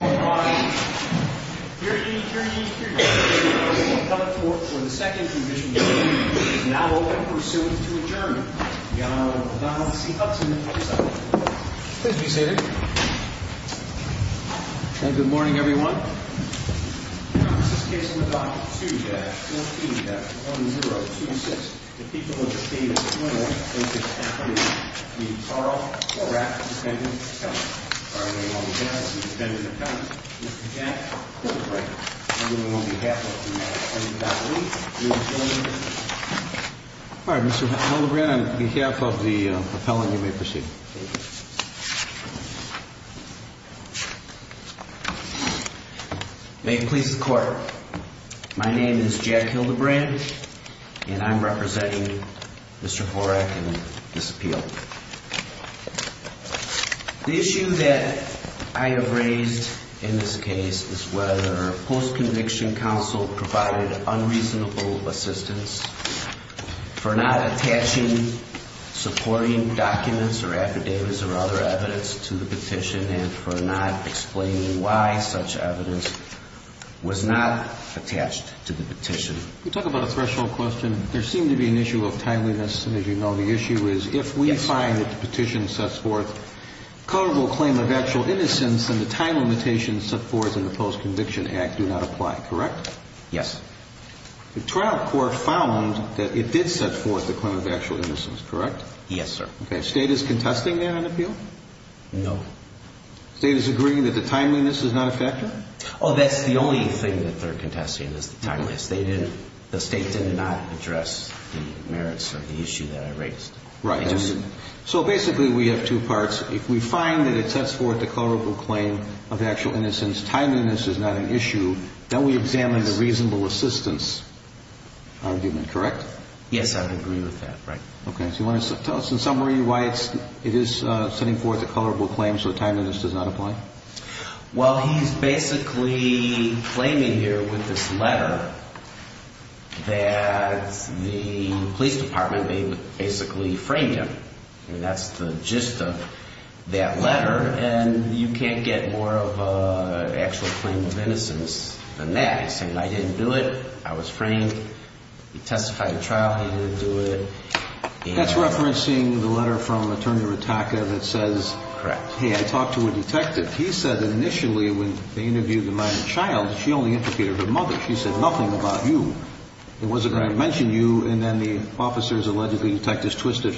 Here he is, here he is, here he is, here he is. We have come forth for the second Commission hearing. It is now open for assent to adjourn. The Honorable Donald C. Hudson will present. Please be seated. Good morning, everyone. This is Case No. 2-14-1026, the people of the state of Florida and the staff of the Horak Defendant Accounts. Pardon me, Mr. Hildebrand, the Defendant Accounts. Mr. Jack Hildebrand, I'm doing it on behalf of the defendant's family, the defendant's family. Pardon, Mr. Hildebrand, on behalf of the appellant, you may proceed. Thank you. May it please the Court, my name is Jack Hildebrand, and I'm representing Mr. Horak in this appeal. The issue that I have raised in this case is whether post-conviction counsel provided unreasonable assistance for not attaching supporting documents or affidavits or other evidence to the petition and for not explaining why such evidence was not attached to the petition. You talk about a threshold question. There seemed to be an issue of timeliness, and as you know, the issue is if we find that the petition sets forth a culpable claim of actual innocence, then the time limitations set forth in the post-conviction act do not apply, correct? Yes. The trial court found that it did set forth the claim of actual innocence, correct? Yes, sir. Okay. State is contesting that in the appeal? No. State is agreeing that the timeliness is not a factor? Oh, that's the only thing that they're contesting, is the timeliness. They didn't – the State did not address the merits or the issue that I raised. Right. So basically we have two parts. If we find that it sets forth a culpable claim of actual innocence, timeliness is not an issue, then we examine the reasonable assistance argument, correct? Yes, I would agree with that, right. Okay. So you want to tell us in summary why it is setting forth a culpable claim so timeliness does not apply? Well, he's basically claiming here with this letter that the police department, they basically framed him, and that's the gist of that letter. And you can't get more of an actual claim of innocence than that. He's saying, I didn't do it. I was framed. He testified in trial. He didn't do it. That's referencing the letter from Attorney Ritaka that says, Correct. Hey, I talked to a detective. He said initially when they interviewed the minor child, she only interpreted her mother. She said nothing about you. It wasn't going to mention you, and then the officers allegedly detectives twisted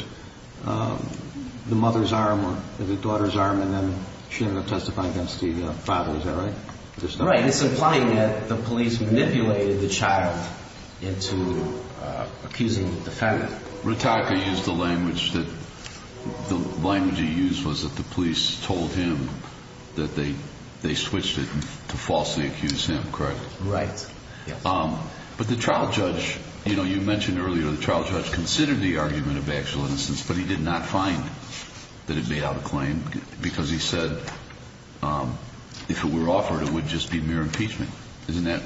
the mother's arm or the daughter's arm, and then she ended up testifying against the father. Is that right? Right. It's implying that the police manipulated the child into accusing the defendant. Ritaka used the language that the police told him that they switched it to falsely accuse him, correct? Right. But the trial judge, you mentioned earlier, the trial judge considered the argument of actual innocence, but he did not find that it made out a claim because he said if it were offered, it would just be mere impeachment. Isn't that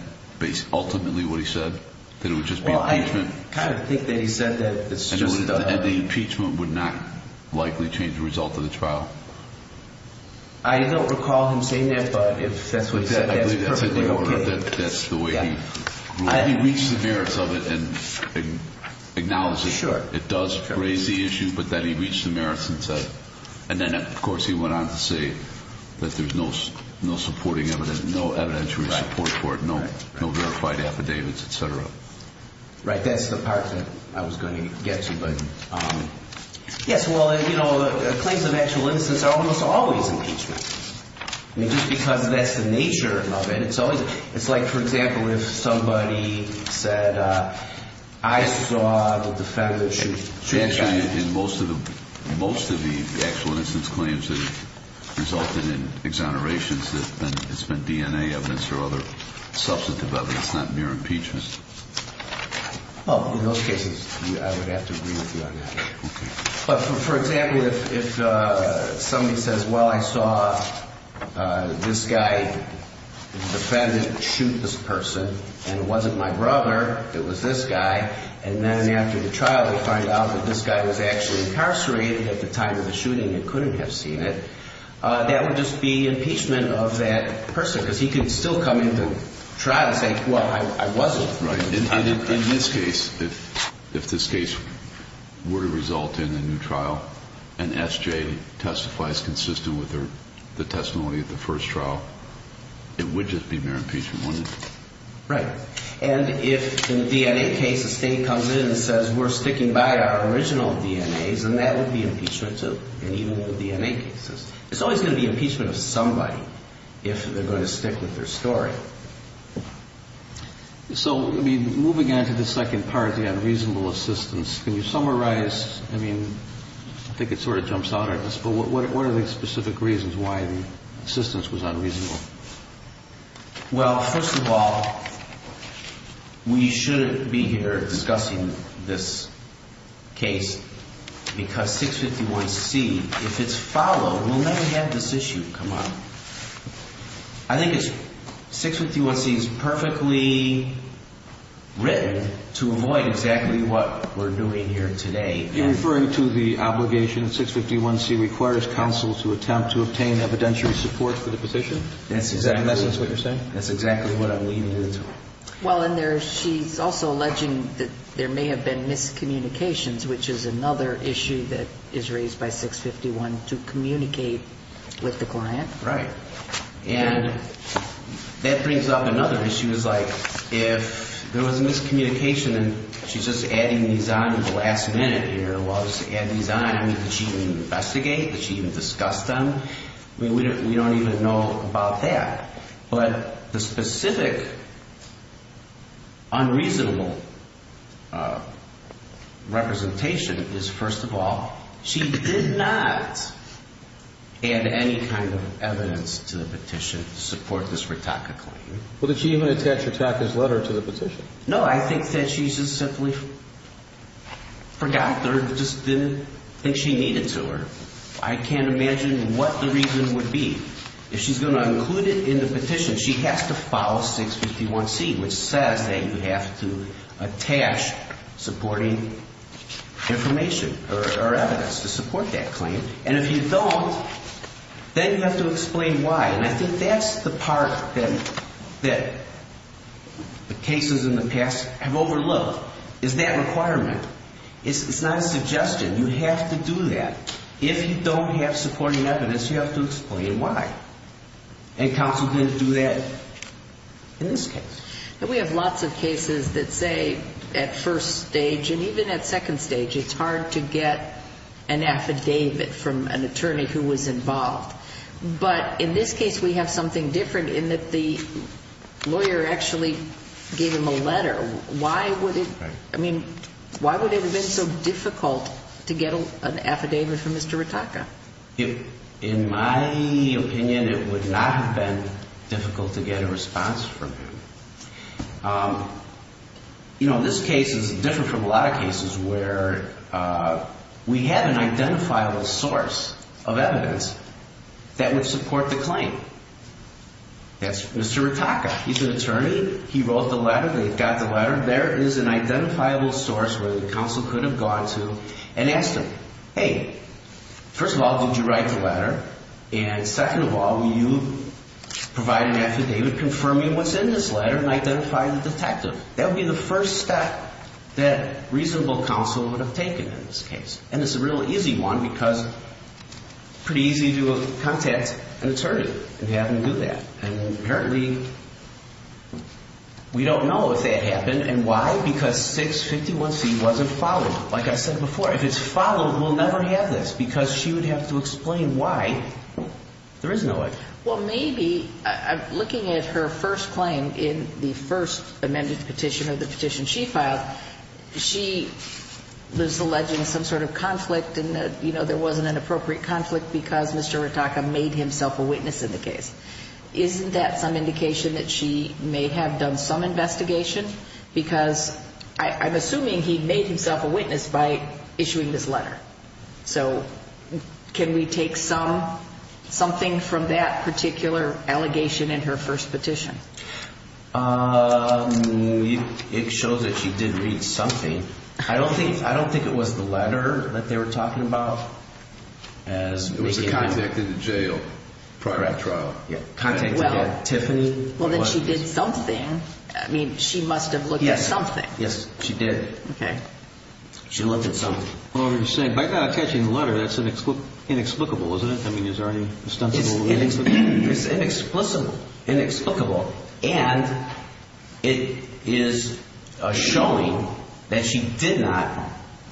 ultimately what he said, that it would just be impeachment? I kind of think that he said that. And the impeachment would not likely change the result of the trial? I don't recall him saying that, but if that's what he said, that's perfectly okay. That's the way he reached the merits of it and acknowledged it. Sure. It does raise the issue, but then he reached the merits and said, and then of course he went on to say that there's no supporting evidence, no evidentiary support for it, no verified affidavits, et cetera. Right. I think that's the part that I was going to get to. Yes, well, claims of actual innocence are almost always impeachment. Just because that's the nature of it. It's like, for example, if somebody said, I saw the defendant shoot a guy. Most of the actual innocence claims have resulted in exonerations that has been DNA evidence or other substantive evidence, not mere impeachment. Well, in those cases, I would have to agree with you on that. Okay. But, for example, if somebody says, well, I saw this guy, the defendant, shoot this person, and it wasn't my brother, it was this guy, and then after the trial they find out that this guy was actually incarcerated at the time of the shooting and couldn't have seen it, that would just be impeachment of that person, because he could still come into trial and say, well, I wasn't. Right. In this case, if this case were to result in a new trial and SJ testifies consistent with the testimony of the first trial, it would just be mere impeachment, wouldn't it? Right. And if in a DNA case a state comes in and says, we're sticking by our original DNAs, then that would be impeachment too. And even with DNA cases. It's always going to be impeachment of somebody if they're going to stick with their story. So, moving on to the second part, the unreasonable assistance, can you summarize, I mean, I think it sort of jumps out at us, but what are the specific reasons why the assistance was unreasonable? Well, first of all, we shouldn't be here discussing this case because 651C, if it's followed, we'll never have this issue come up. I think 651C is perfectly written to avoid exactly what we're doing here today. You're referring to the obligation that 651C requires counsel to attempt to obtain evidentiary support for the position? That's exactly what you're saying? That's exactly what I'm leaning into. Well, and she's also alleging that there may have been miscommunications, which is another issue that is raised by 651, to communicate with the client. Right. And that brings up another issue. It's like if there was a miscommunication, and she's just adding these on at the last minute here, while she's adding these on, I mean, did she even investigate? Did she even discuss them? I mean, we don't even know about that. But the specific unreasonable representation is, first of all, she did not add any kind of evidence to the petition to support this Ritaka claim. Well, did she even attach Ritaka's letter to the petition? No, I think that she just simply forgot or just didn't think she needed to. I can't imagine what the reason would be. If she's going to include it in the petition, she has to follow 651C, which says that you have to attach supporting information or evidence to support that claim. And if you don't, then you have to explain why. And I think that's the part that the cases in the past have overlooked, is that requirement. It's not a suggestion. You have to do that. If you don't have supporting evidence, you have to explain why. And counsel didn't do that in this case. We have lots of cases that say at first stage, and even at second stage, it's hard to get an affidavit from an attorney who was involved. But in this case, we have something different in that the lawyer actually gave him a letter. Why would it have been so difficult to get an affidavit from Mr. Ritaka? In my opinion, it would not have been difficult to get a response from him. This case is different from a lot of cases where we have an identifiable source of evidence that would support the claim. That's Mr. Ritaka. He's an attorney. He wrote the letter. They got the letter. There is an identifiable source where the counsel could have gone to and asked him, hey, first of all, did you write the letter? And second of all, will you provide an affidavit confirming what's in this letter and identify the detective? That would be the first step that reasonable counsel would have taken in this case. And it's a real easy one because it's pretty easy to contact an attorney and have them do that. And apparently we don't know if that happened. And why? Because 651C wasn't followed. Like I said before, if it's followed, we'll never have this because she would have to explain why there is no affidavit. Well, maybe looking at her first claim in the first amended petition of the petition she filed, she was alleging some sort of conflict and, you know, there wasn't an appropriate conflict because Mr. Ritaka made himself a witness in the case. Isn't that some indication that she may have done some investigation? Because I'm assuming he made himself a witness by issuing this letter. So can we take something from that particular allegation in her first petition? It shows that she did read something. I don't think it was the letter that they were talking about. It was a contact in the jail prior to that trial. Well, then she did something. I mean, she must have looked at something. Yes, she did. Okay. She looked at something. By not attaching the letter, that's inexplicable, isn't it? I mean, is there any ostensible reason? It's inexplicable. Inexplicable. And it is showing that she did not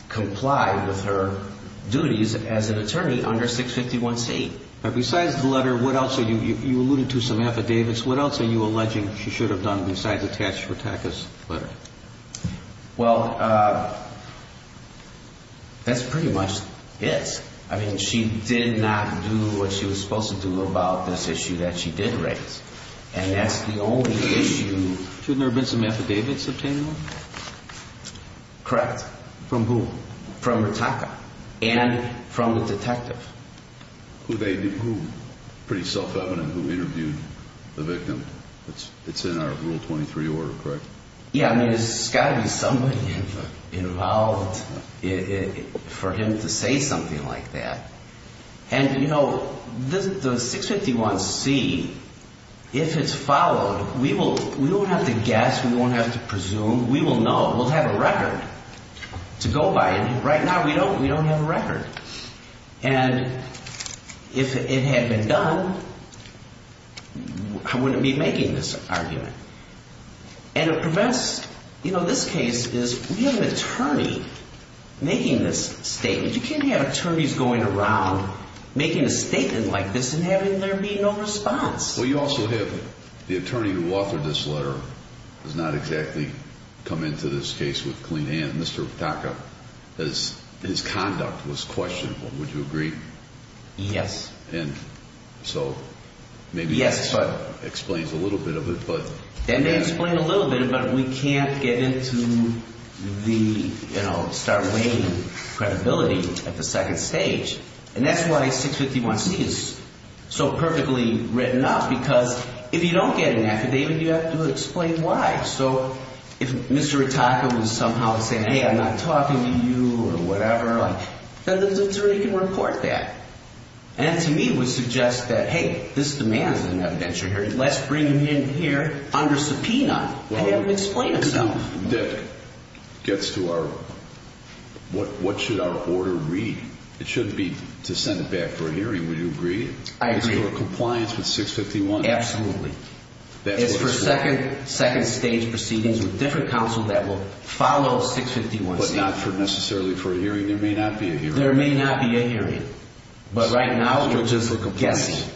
comply with her duties as an attorney under 651C. Besides the letter, what else are you – you alluded to some affidavits. What else are you alleging she should have done besides attach Ritaka's letter? Well, that's pretty much it. I mean, she did not do what she was supposed to do about this issue that she did raise. And that's the only issue. Shouldn't there have been some affidavits obtained on that? Correct. From who? From Ritaka and from the detective. Who they – pretty self-evident who interviewed the victim. It's in our Rule 23 order, correct? Yeah, I mean, there's got to be somebody involved for him to say something like that. And, you know, the 651C, if it's followed, we won't have to guess. We won't have to presume. We will know. We'll have a record to go by. And right now, we don't have a record. And if it had been done, I wouldn't be making this argument. And it prevents – you know, this case is – we have an attorney making this statement. You can't have attorneys going around making a statement like this and having there be no response. Well, you also have the attorney who authored this letter has not exactly come into this case with clean hands. Mr. Ritaka, his conduct was questionable. Would you agree? Yes. And so maybe that explains a little bit of it. That may explain a little bit, but we can't get into the, you know, start weighing credibility at the second stage. And that's why 651C is so perfectly written up because if you don't get an affidavit, you have to explain why. So if Mr. Ritaka was somehow saying, hey, I'm not talking to you or whatever, then the attorney can report that. And to me, it would suggest that, hey, this demands an evidentiary hearing. Let's bring him in here under subpoena and have him explain himself. That gets to our – what should our order read? It shouldn't be to send it back for a hearing. Would you agree? I agree. It's for compliance with 651. Absolutely. That's what it's for. It's for second stage proceedings with different counsel that will follow 651C. But not necessarily for a hearing. There may not be a hearing. But right now, we're just guessing.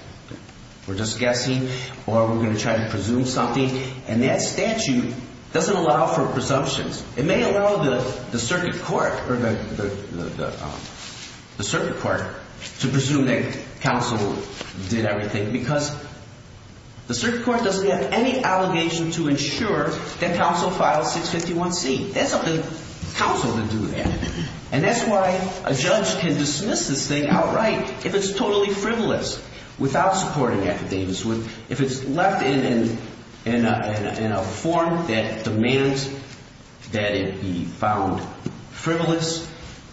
We're just guessing or we're going to try to presume something. And that statute doesn't allow for presumptions. It may allow the circuit court to presume that counsel did everything because the circuit court doesn't have any allegation to ensure that counsel filed 651C. It's up to counsel to do that. And that's why a judge can dismiss this thing outright if it's totally frivolous without supporting affidavits. If it's left in a form that demands that it be found frivolous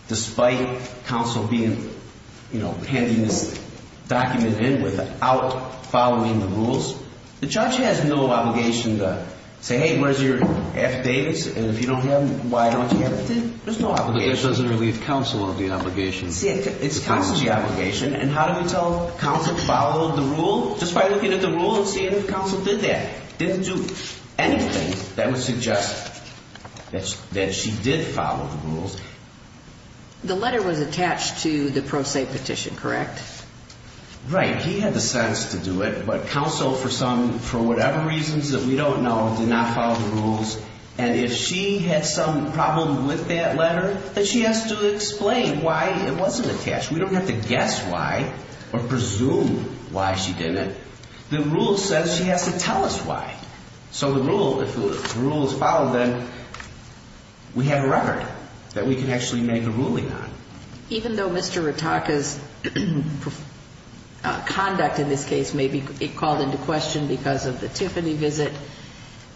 despite counsel being – handing this document in without following the rules, the judge has no obligation to say, hey, where's your affidavits? And if you don't have them, why don't you have them? There's no obligation. But this doesn't relieve counsel of the obligation. It's counsel's obligation. And how do we tell counsel followed the rule? Just by looking at the rule and seeing if counsel did that. Didn't do anything that would suggest that she did follow the rules. The letter was attached to the pro se petition, correct? Right. He had the sense to do it. But counsel, for whatever reasons that we don't know, did not follow the rules. And if she had some problem with that letter, then she has to explain why it wasn't attached. We don't have to guess why or presume why she didn't. The rule says she has to tell us why. So the rule, if the rule is followed, then we have a record that we can actually make a ruling on. Even though Mr. Ritaka's conduct in this case may be called into question because of the Tiffany visit,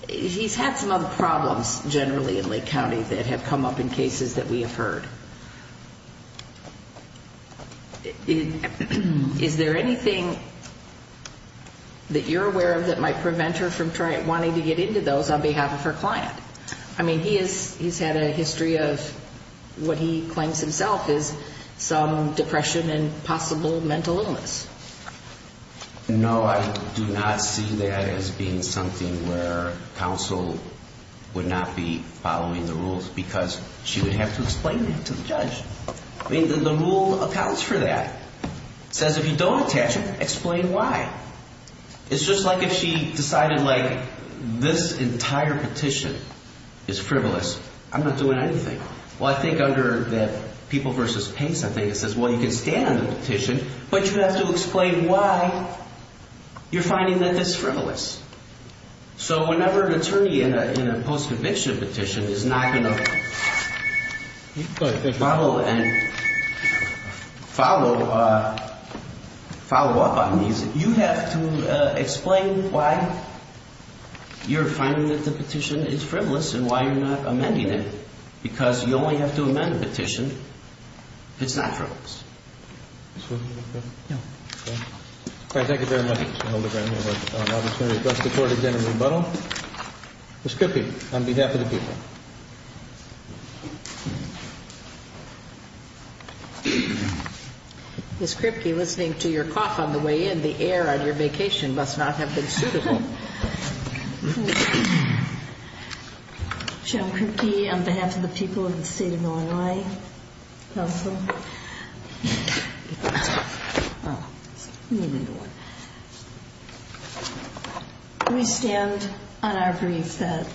he's had some other problems generally in Lake County that have come up in cases that we have heard. Is there anything that you're aware of that might prevent her from wanting to get into those on behalf of her client? I mean, he has had a history of what he claims himself is some depression and possible mental illness. No, I do not see that as being something where counsel would not be following the rules because she would have to explain that to the judge. I mean, the rule accounts for that. It says if you don't attach it, explain why. It's just like if she decided, like, this entire petition is frivolous, I'm not doing anything. Well, I think under that people versus pace, I think it says, well, you can stand the petition, but you have to explain why you're finding that this frivolous. So whenever an attorney in a post-conviction petition is not going to follow and follow up on these, you have to explain why you're finding that the petition is frivolous and why you're not amending it. Because you only have to amend a petition if it's not frivolous. All right, thank you very much, Mr. Holder. Thank you very much. That's the court agenda rebuttal. Ms. Kripke, on behalf of the people. Ms. Kripke, listening to your cough on the way in, the air on your vacation must not have been suitable. Joan Kripke, on behalf of the people of the state of Illinois, also. We stand on our grief that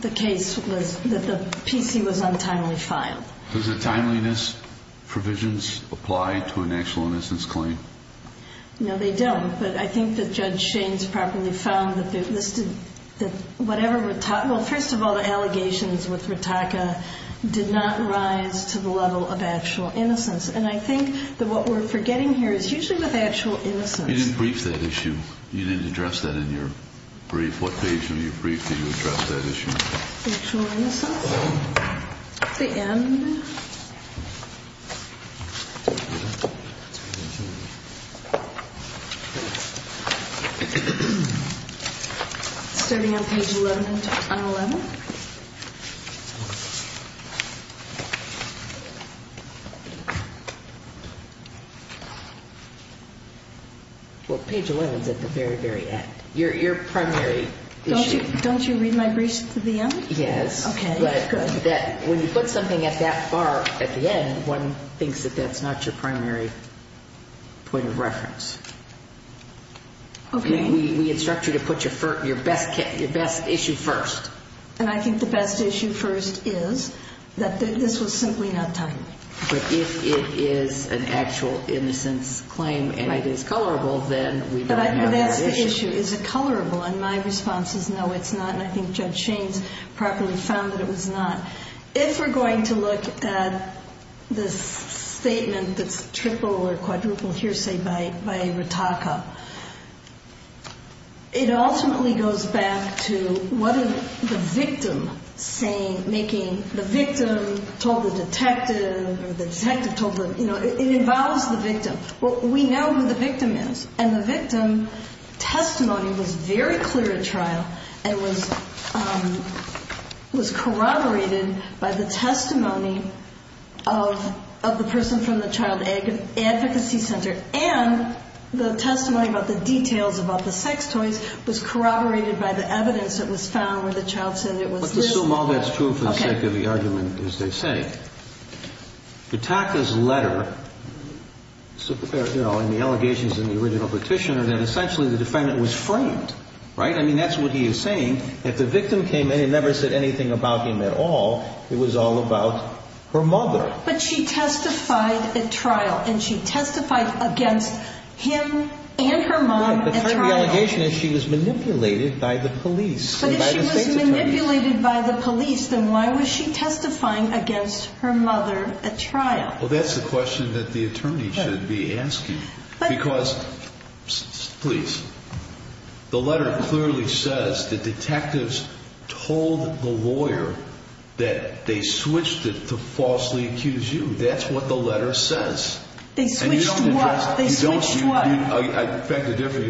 the case was, that the PC was untimely filed. Does the timeliness provisions apply to an actual innocence claim? No, they don't. But I think that Judge Shaines properly found that whatever, well, first of all, the allegations with Ritaka did not rise to the level of actual innocence. And I think that what we're forgetting here is usually with actual innocence. You didn't brief that issue. You didn't address that in your brief. What page of your brief did you address that issue? Actual innocence. The end. Starting on page 11. Well, page 11 is at the very, very end. Your primary issue. Don't you read my brief to the end? Yes. Okay, good. But when you put something at that far at the end, one thinks that that's not your primary point of reference. Okay. We instruct you to put your best issue first. And I think the best issue first is that this was simply not timely. But if it is an actual innocence claim and it is colorable, then we don't have that issue. But that's the issue. Is it colorable? And my response is no, it's not. And I think Judge Shaines properly found that it was not. If we're going to look at this statement that's triple or quadruple hearsay by Ritaka, it ultimately goes back to what is the victim saying, making the victim told the detective or the detective told the, you know, it involves the victim. We know who the victim is. And the victim testimony was very clear at trial and was corroborated by the testimony of the person from the child advocacy center. And the testimony about the details about the sex toys was corroborated by the evidence that was found where the child said it was this. Let's assume all that's true for the sake of the argument as they say. Ritaka's letter and the allegations in the original petition are that essentially the defendant was framed. Right? I mean, that's what he is saying. If the victim came in and never said anything about him at all, it was all about her mother. But she testified at trial and she testified against him and her mom at trial. The allegation is she was manipulated by the police. She was manipulated by the police. Then why was she testifying against her mother at trial? Well, that's the question that the attorney should be asking. Because please, the letter clearly says that detectives told the lawyer that they switched it to falsely accuse you. That's what the letter says. They switched what? You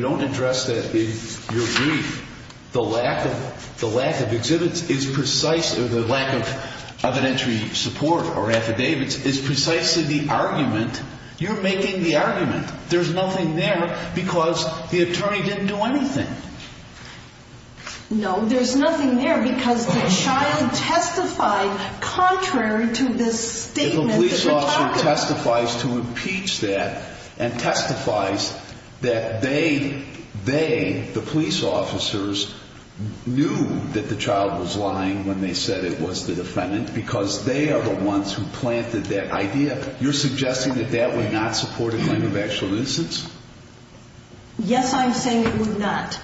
don't address that in your brief. The lack of exhibits is precisely the lack of evidentiary support or affidavits is precisely the argument. You're making the argument. There's nothing there because the attorney didn't do anything. No, there's nothing there because the child testified contrary to this statement. The police officer testifies to impeach that and testifies that they, the police officers, knew that the child was lying when they said it was the defendant because they are the ones who planted that idea. You're suggesting that that would not support a claim of actual nuisance? Yes, I'm saying it would not.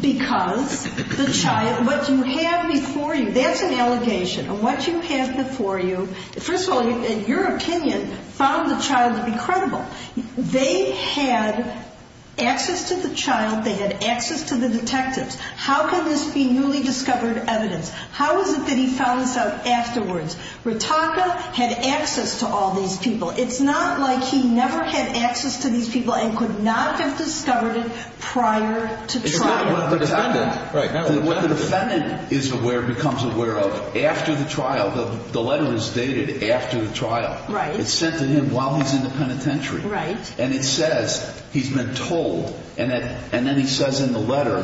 Because the child, what you have before you, that's an allegation. And what you have before you, first of all, in your opinion, found the child to be credible. They had access to the child. They had access to the detectives. How can this be newly discovered evidence? How is it that he found this out afterwards? Ritaka had access to all these people. It's not like he never had access to these people and could not have discovered it prior to trial. When the defendant is aware, becomes aware of, after the trial, the letter is dated after the trial. It's sent to him while he's in the penitentiary. And it says he's been told. And then he says in the letter,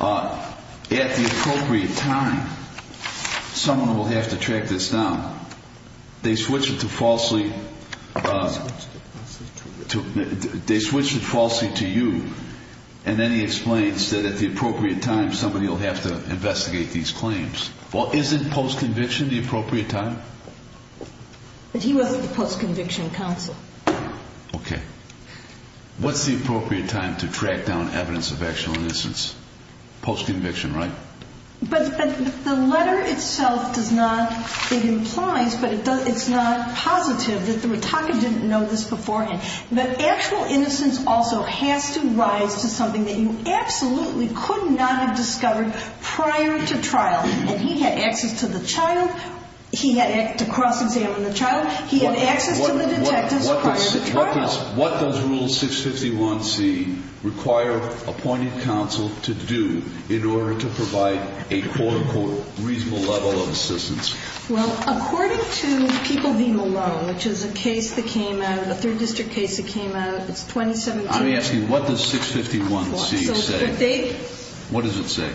at the appropriate time, someone will have to track this down. They switch it to falsely to you. And then he explains that at the appropriate time, somebody will have to investigate these claims. Well, isn't post-conviction the appropriate time? But he was at the post-conviction counsel. Okay. What's the appropriate time to track down evidence of actual innocence? Post-conviction, right? But the letter itself does not, it implies, but it's not positive that Ritaka didn't know this beforehand. But actual innocence also has to rise to something that you absolutely could not have discovered prior to trial. And he had access to the child. He had to cross-examine the child. He had access to the detectives prior to trial. What does Rule 651C require appointed counsel to do in order to provide a quote-unquote reasonable level of assistance? Well, according to People v. Malone, which is a case that came out, a third district case that came out, it's 2017. Let me ask you, what does 651C say? What does it say?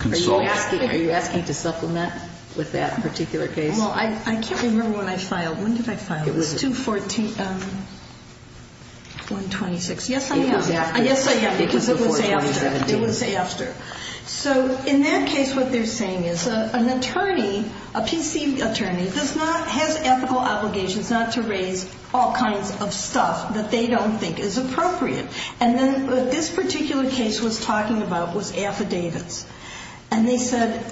Consult. Are you asking to supplement with that particular case? Well, I can't remember when I filed. When did I file it? It was 2-14-126. Yes, I am. Yes, I am, because it was after. It was after. So in that case, what they're saying is an attorney, a PC attorney, has ethical obligations not to raise all kinds of stuff that they don't think is appropriate. And then what this particular case was talking about was affidavits. And they said,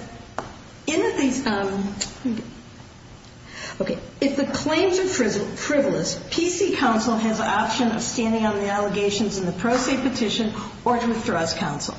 if the claims are frivolous, PC counsel has the option of standing on the allegations in the pro se petition or to withdraw as counsel.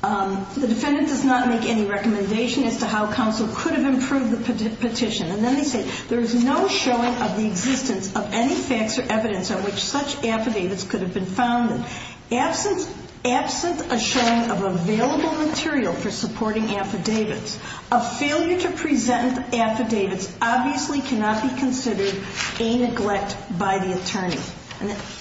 The defendant does not make any recommendation as to how counsel could have improved the petition. And then they say, there is no showing of the existence of any facts or evidence on which such affidavits could have been found. Absent a showing of available material for supporting affidavits, a failure to present affidavits obviously cannot be considered a neglect by the attorney.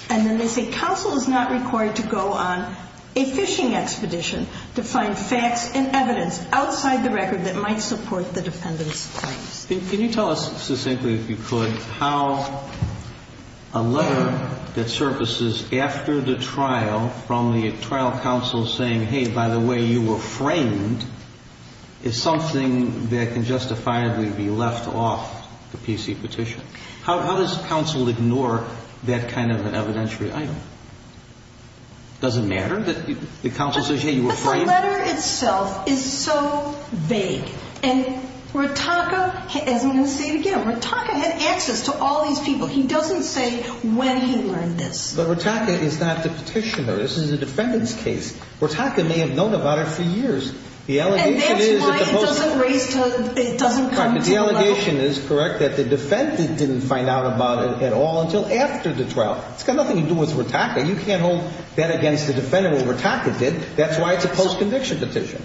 And then they say, counsel is not required to go on a fishing expedition to find facts and evidence outside the record that might support the defendant's claims. Can you tell us succinctly, if you could, how a letter that surfaces after the trial from the trial counsel saying, hey, by the way, you were framed, is something that can justifiably be left off the PC petition? How does counsel ignore that kind of an evidentiary item? Does it matter that the counsel says, hey, you were framed? The letter itself is so vague. And Ritaka, as I'm going to say it again, Ritaka had access to all these people. He doesn't say when he learned this. But Ritaka is not the petitioner. This is the defendant's case. Ritaka may have known about it for years. And that's why it doesn't come to the level. The allegation is correct that the defendant didn't find out about it at all until after the trial. It's got nothing to do with Ritaka. You can't hold that against the defendant when Ritaka did. That's why it's a post-conviction petition.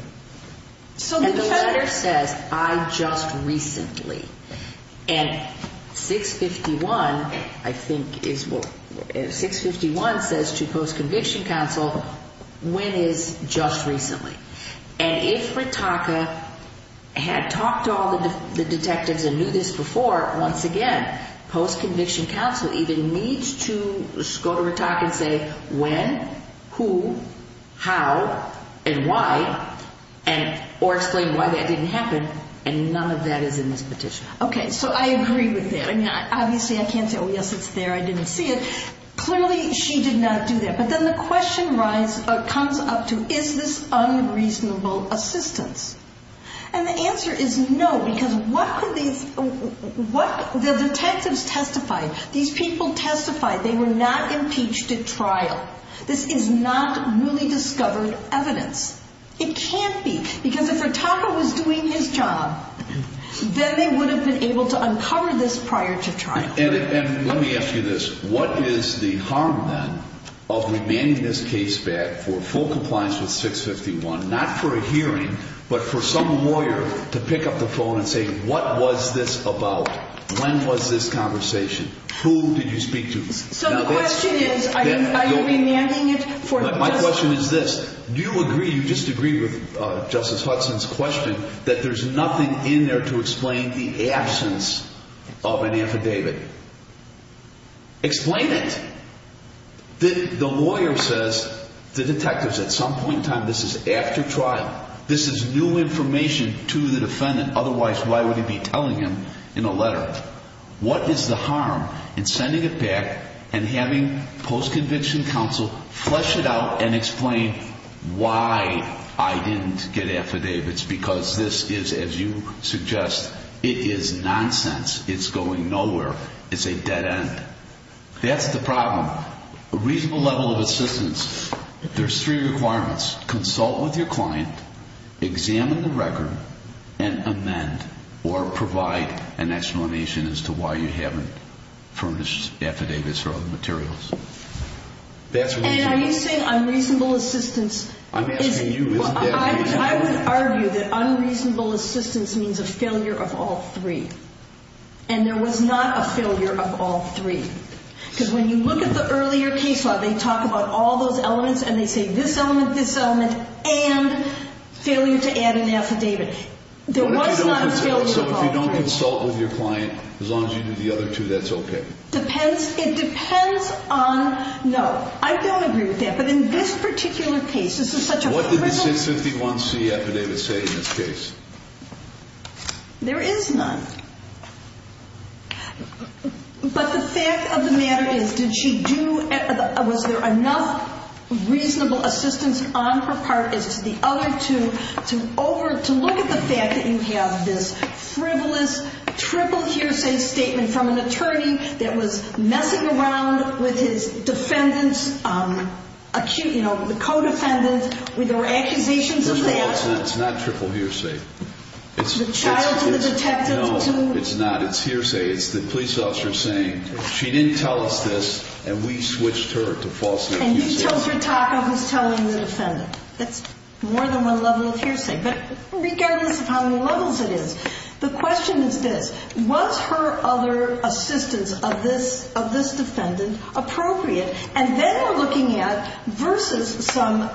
And the letter says, I just recently. And 651, I think, is what, 651 says to post-conviction counsel, when is just recently? And if Ritaka had talked to all the detectives and knew this before, once again, post-conviction counsel even needs to go to Ritaka and say when, who, how, and why, or explain why that didn't happen, and none of that is in this petition. Okay, so I agree with that. Obviously, I can't say, oh, yes, it's there, I didn't see it. Clearly, she did not do that. But then the question comes up to, is this unreasonable assistance? And the answer is no, because what could these, what the detectives testified, these people testified they were not impeached at trial. This is not newly discovered evidence. It can't be, because if Ritaka was doing his job, then they would have been able to uncover this prior to trial. And let me ask you this. What is the harm, then, of remanding this case back for full compliance with 651, not for a hearing, but for some lawyer to pick up the phone and say, what was this about? When was this conversation? Who did you speak to? So the question is, are you remanding it? My question is this. Do you agree, you just agree with Justice Hudson's question, that there's nothing in there to explain the absence of an affidavit? Explain it. The lawyer says to detectives, at some point in time, this is after trial. This is new information to the defendant. Otherwise, why would he be telling him in a letter? What is the harm in sending it back and having post-conviction counsel flesh it out and explain why I didn't get affidavits, because this is, as you suggest, it is nonsense. It's going nowhere. It's a dead end. That's the problem. A reasonable level of assistance, there's three requirements. Consult with your client, examine the record, and amend or provide an explanation as to why you haven't furnished affidavits or other materials. And are you saying unreasonable assistance? I'm asking you, isn't that reasonable? I would argue that unreasonable assistance means a failure of all three. And there was not a failure of all three. Because when you look at the earlier case law, they talk about all those elements and they say this element, this element, and failure to add an affidavit. There was not a failure of all three. So if you don't consult with your client, as long as you do the other two, that's okay? It depends on, no, I don't agree with that. But in this particular case, this is such a frivolous. What did the 651C affidavit say in this case? There is none. But the fact of the matter is, did she do, was there enough reasonable assistance on her part as to the other two to look at the fact that you have this frivolous triple hearsay statement from an attorney that was messing around with his defendant's acute, you know, the co-defendant. Were there accusations of that? First of all, it's not triple hearsay. It's the child to the detective to. No, it's not. It's hearsay. It's the police officer saying she didn't tell us this and we switched her to false accusation. And he chose her talk of his telling the defendant. That's more than one level of hearsay. But regardless of how many levels it is, the question is this. Was her other assistance of this defendant appropriate? And then we're looking at versus some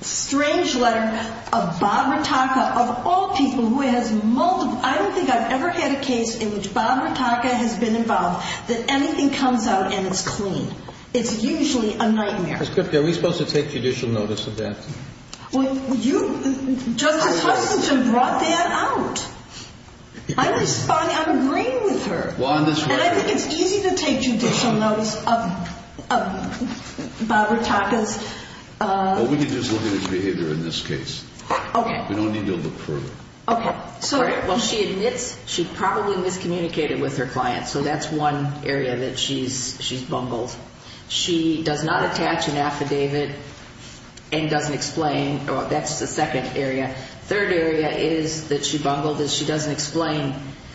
strange letter of Bob Rataka, of all people who has multiple, I don't think I've ever had a case in which Bob Rataka has been involved that anything comes out and it's clean. It's usually a nightmare. Ms. Kripke, are we supposed to take judicial notice of that? Well, you, Justice Hutchinson brought that out. I'm agreeing with her. And I think it's easy to take judicial notice of Bob Rataka's. Well, we can just look at his behavior in this case. Okay. We don't need to look further. Okay. Well, she admits she probably miscommunicated with her client. So that's one area that she's bungled. She does not attach an affidavit and doesn't explain. That's the second area. Third area is that she bungled is she doesn't explain.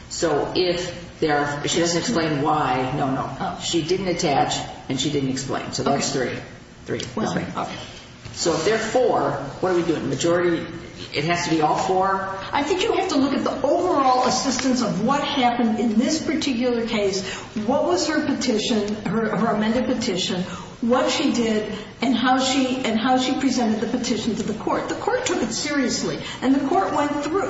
So if there are, she doesn't explain why. No, no. She didn't attach and she didn't explain. So that's three. Three. Okay. So if there are four, what are we doing? Majority, it has to be all four? I think you have to look at the overall assistance of what happened in this particular case, what was her petition, her amended petition, what she did and how she presented the petition to the court. The court took it seriously. And the court went through,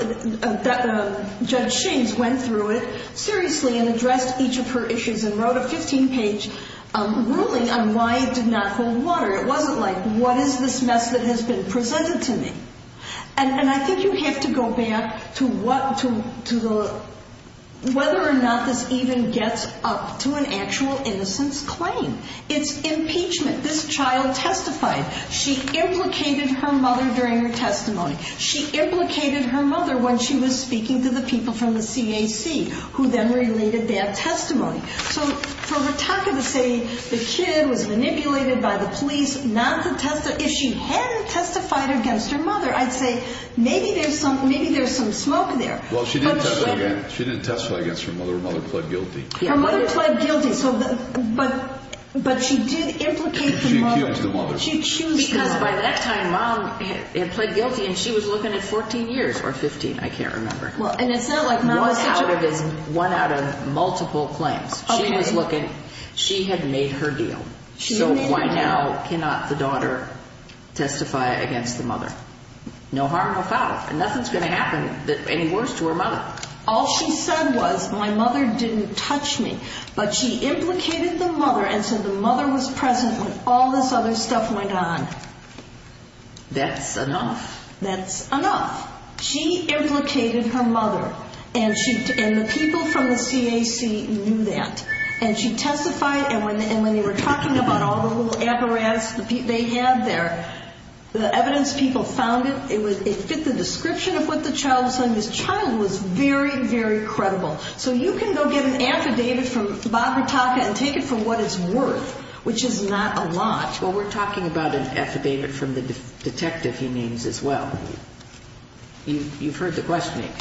Judge Shames went through it seriously and addressed each of her issues and wrote a 15-page ruling on why it did not hold water. It wasn't like, what is this mess that has been presented to me? And I think you have to go back to whether or not this even gets up to an actual innocence claim. It's impeachment. This child testified. She implicated her mother during her testimony. She implicated her mother when she was speaking to the people from the CAC, who then related bad testimony. So for Ritaka to say the kid was manipulated by the police not to testify, if she hadn't testified against her mother, I'd say maybe there's some smoke there. Well, she didn't testify against her mother. Her mother pled guilty. Her mother pled guilty. But she did implicate the mother. Because by that time, Mom had pled guilty, and she was looking at 14 years or 15. I can't remember. One out of multiple claims. She was looking. She had made her deal. So why now cannot the daughter testify against the mother? No harm, no foul. And nothing's going to happen any worse to her mother. All she said was, my mother didn't touch me. But she implicated the mother and said the mother was present when all this other stuff went on. That's enough. That's enough. She implicated her mother. And the people from the CAC knew that. And she testified. And when they were talking about all the little apparatus they had there, the evidence people found, it fit the description of what the child was saying. This child was very, very credible. So you can go get an affidavit from Barbara Taka and take it for what it's worth, which is not a lot. Well, we're talking about an affidavit from the detective he names as well. You've heard the questioning.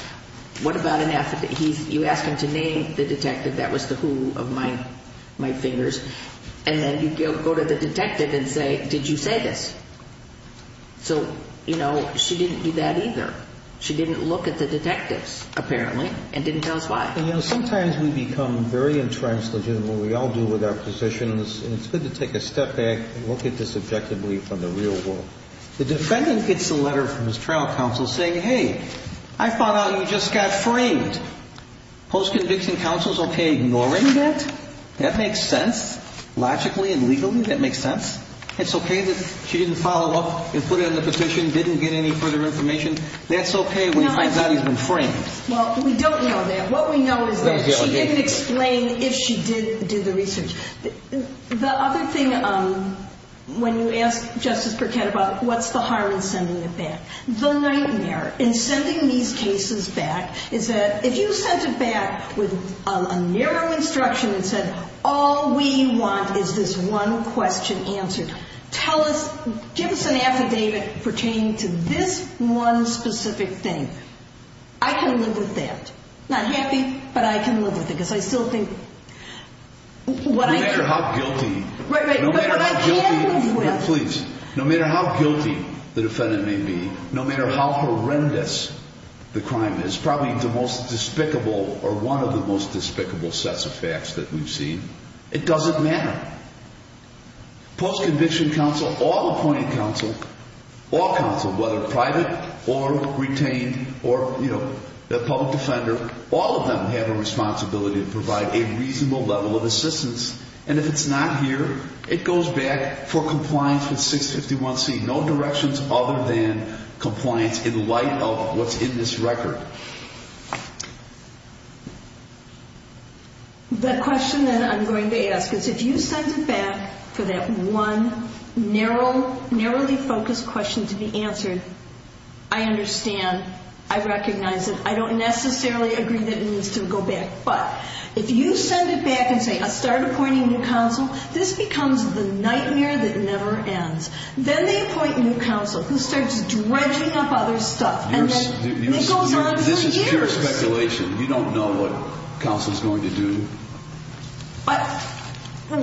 What about an affidavit? You ask him to name the detective. That was the who of my fingers. And then you go to the detective and say, did you say this? So, you know, she didn't do that either. She didn't look at the detectives, apparently, and didn't tell us why. Sometimes we become very entrenched in what we all do with our positions, and it's good to take a step back and look at this objectively from the real world. The defendant gets a letter from his trial counsel saying, hey, I found out you just got framed. Post-conviction counsel is okay ignoring that. That makes sense. Logically and legally, that makes sense. It's okay that she didn't follow up and put it in the petition, didn't get any further information. That's okay when he finds out he's been framed. Well, we don't know that. What we know is that she didn't explain if she did do the research. The other thing, when you ask Justice Burkett about what's the harm in sending it back, the nightmare in sending these cases back is that if you sent it back with a narrow instruction that said all we want is this one question answered, give us an affidavit pertaining to this one specific thing. I can live with that. Not happy, but I can live with it because I still think what I can. No matter how guilty the defendant may be, no matter how horrendous the crime is, probably the most despicable or one of the most despicable sets of facts that we've seen, it doesn't matter. Post-conviction counsel, all appointed counsel, all counsel, whether private or retained or the public defender, all of them have a responsibility to provide a reasonable level of assistance. And if it's not here, it goes back for compliance with 651C. No directions other than compliance in light of what's in this record. The question that I'm going to ask is if you send it back for that one narrowly focused question to be answered, I understand. I recognize it. I don't necessarily agree that it needs to go back. But if you send it back and say I'll start appointing new counsel, this becomes the nightmare that never ends. Then they appoint new counsel who starts dredging up other stuff. And then it goes on for years. This is pure speculation. You don't know what counsel is going to do.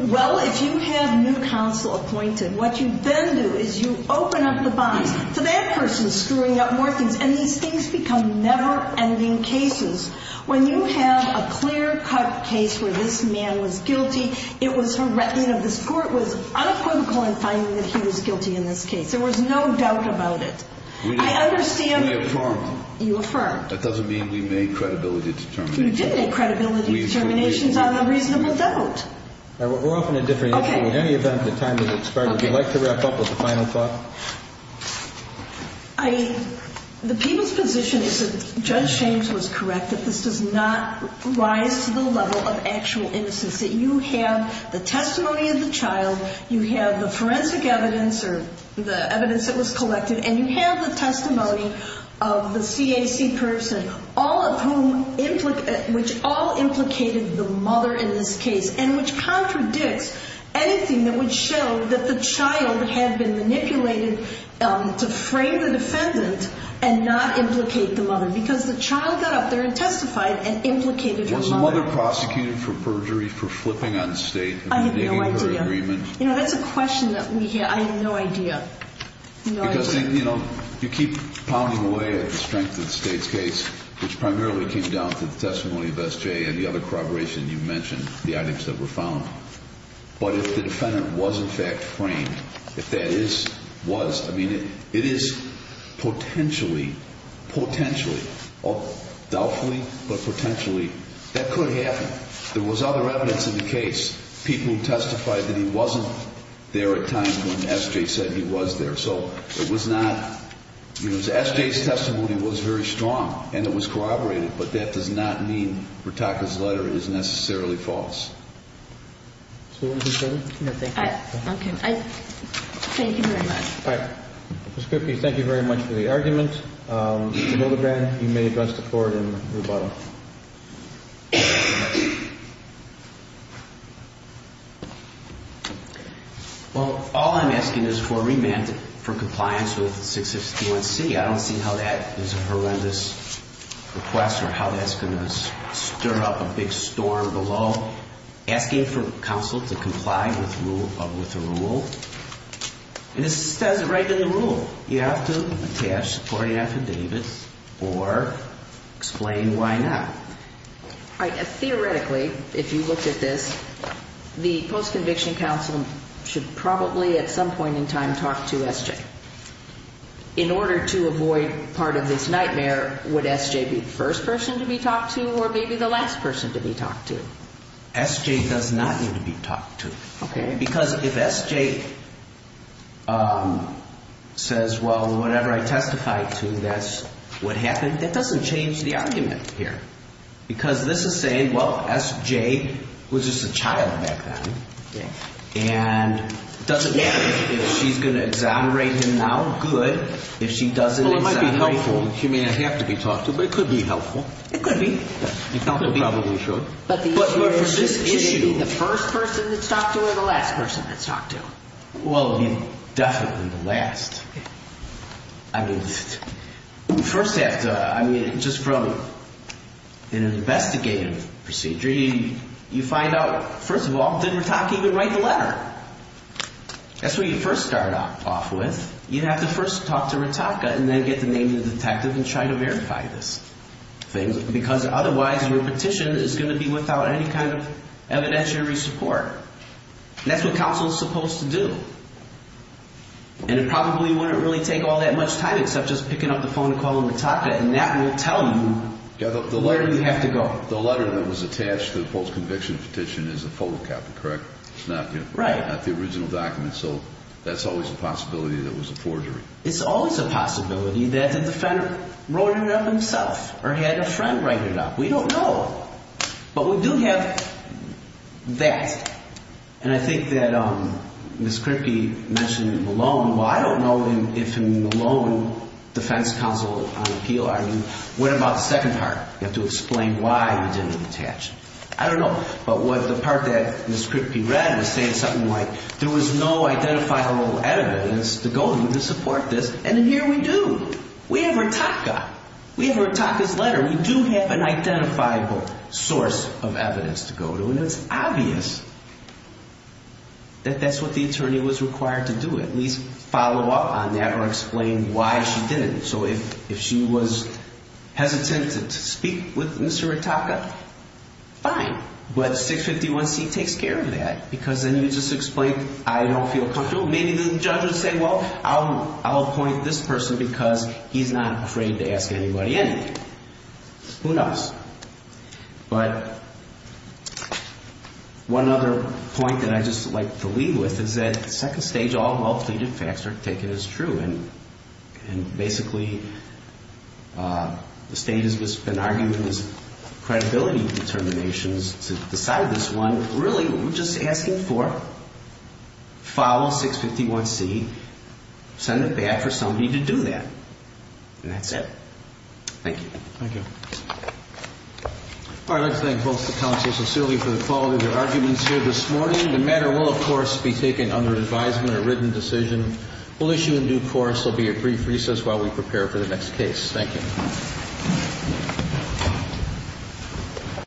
Well, if you have new counsel appointed, what you then do is you open up the box to that person screwing up more things. And these things become never-ending cases. When you have a clear-cut case where this man was guilty, it was a reckoning of this court, it was unequivocal in finding that he was guilty in this case. There was no doubt about it. I understand you affirmed. That doesn't mean we made credibility determinations. You didn't make credibility determinations on a reasonable doubt. We're off on a different issue. In any event, the time has expired. Would you like to wrap up with a final thought? The people's position is that Judge James was correct, that this does not rise to the level of actual innocence, that you have the testimony of the child, you have the forensic evidence or the evidence that was collected, and you have the testimony of the CAC person, which all implicated the mother in this case, and which contradicts anything that would show that the child had been manipulated to frame the defendant and not implicate the mother, because the child got up there and testified and implicated the mother. Was the mother prosecuted for perjury, for flipping on state, for breaking her agreement? I have no idea. That's a question that we hear, I have no idea. Because, you know, you keep pounding away at the strength of the state's case, which primarily came down to the testimony of SJ and the other corroboration you mentioned, the items that were found. But if the defendant was in fact framed, if that is, was, I mean, it is potentially, potentially, doubtfully, but potentially, that could happen. There was other evidence in the case. People testified that he wasn't there at times when SJ said he was there. So it was not, you know, SJ's testimony was very strong, and it was corroborated, but that does not mean Ritaka's letter is necessarily false. Is there anything further? No, thank you. Okay. Thank you very much. All right. Ms. Kripke, thank you very much for the argument. Mr. Hildebrand, you may address the floor and the bottom. Well, all I'm asking is for a remand for compliance with 661C. I don't see how that is a horrendous request or how that's going to stir up a big storm below. Asking for counsel to comply with a rule, and this says it right in the rule. You have to attach a supporting affidavit or explain why not. All right. Theoretically, if you looked at this, the post-conviction counsel should probably at some point in time talk to SJ. In order to avoid part of this nightmare, would SJ be the first person to be talked to or maybe the last person to be talked to? SJ does not need to be talked to. Okay. Because if SJ says, well, whatever I testified to, that's what happened, that doesn't change the argument here. Because this is saying, well, SJ was just a child back then. Yes. And it doesn't matter if she's going to exonerate him now. Good. If she doesn't exonerate him. Well, it might be helpful. She may not have to be talked to, but it could be helpful. It could be. It probably should. But for this issue, should it be the first person that's talked to or the last person that's talked to? Well, definitely the last. I mean, first you have to, I mean, just from an investigative procedure, you find out, first of all, didn't Ritaka even write the letter? That's where you first start off with. You'd have to first talk to Ritaka and then get the name of the detective and try to verify this thing. Because otherwise your petition is going to be without any kind of evidentiary support. And that's what counsel is supposed to do. And it probably wouldn't really take all that much time except just picking up the phone and calling Ritaka. And that will tell you where you have to go. The letter that was attached to the post-conviction petition is a photocopy, correct? It's not the original document. So that's always a possibility that it was a forgery. It's always a possibility that the defendant wrote it up himself or had a friend write it up. We don't know. But we do have that. And I think that Ms. Kripke mentioned Malone. Well, I don't know if Malone, defense counsel on appeal, I mean, what about the second part? You have to explain why he didn't attach. I don't know. But the part that Ms. Kripke read was saying something like there was no identifiable evidence to go to to support this. And here we do. We have Ritaka. We have Ritaka's letter. We do have an identifiable source of evidence to go to. And it's obvious that that's what the attorney was required to do, at least follow up on that or explain why she didn't. So if she was hesitant to speak with Mr. Ritaka, fine. But 651C takes care of that because then you just explain I don't feel comfortable. Maybe the judge would say, well, I'll appoint this person because he's not afraid to ask anybody anything. Who knows? But one other point that I'd just like to leave with is that second stage all well-pleaded facts are taken as true. And basically the state has been arguing this credibility determinations to decide this one. Really, we're just asking for follow 651C, send it back for somebody to do that. And that's it. Thank you. Thank you. All right. Let's thank both the counsels sincerely for the quality of their arguments here this morning. The matter will, of course, be taken under advisement or a written decision. We'll issue a new course. There will be a brief recess while we prepare for the next case. Thank you.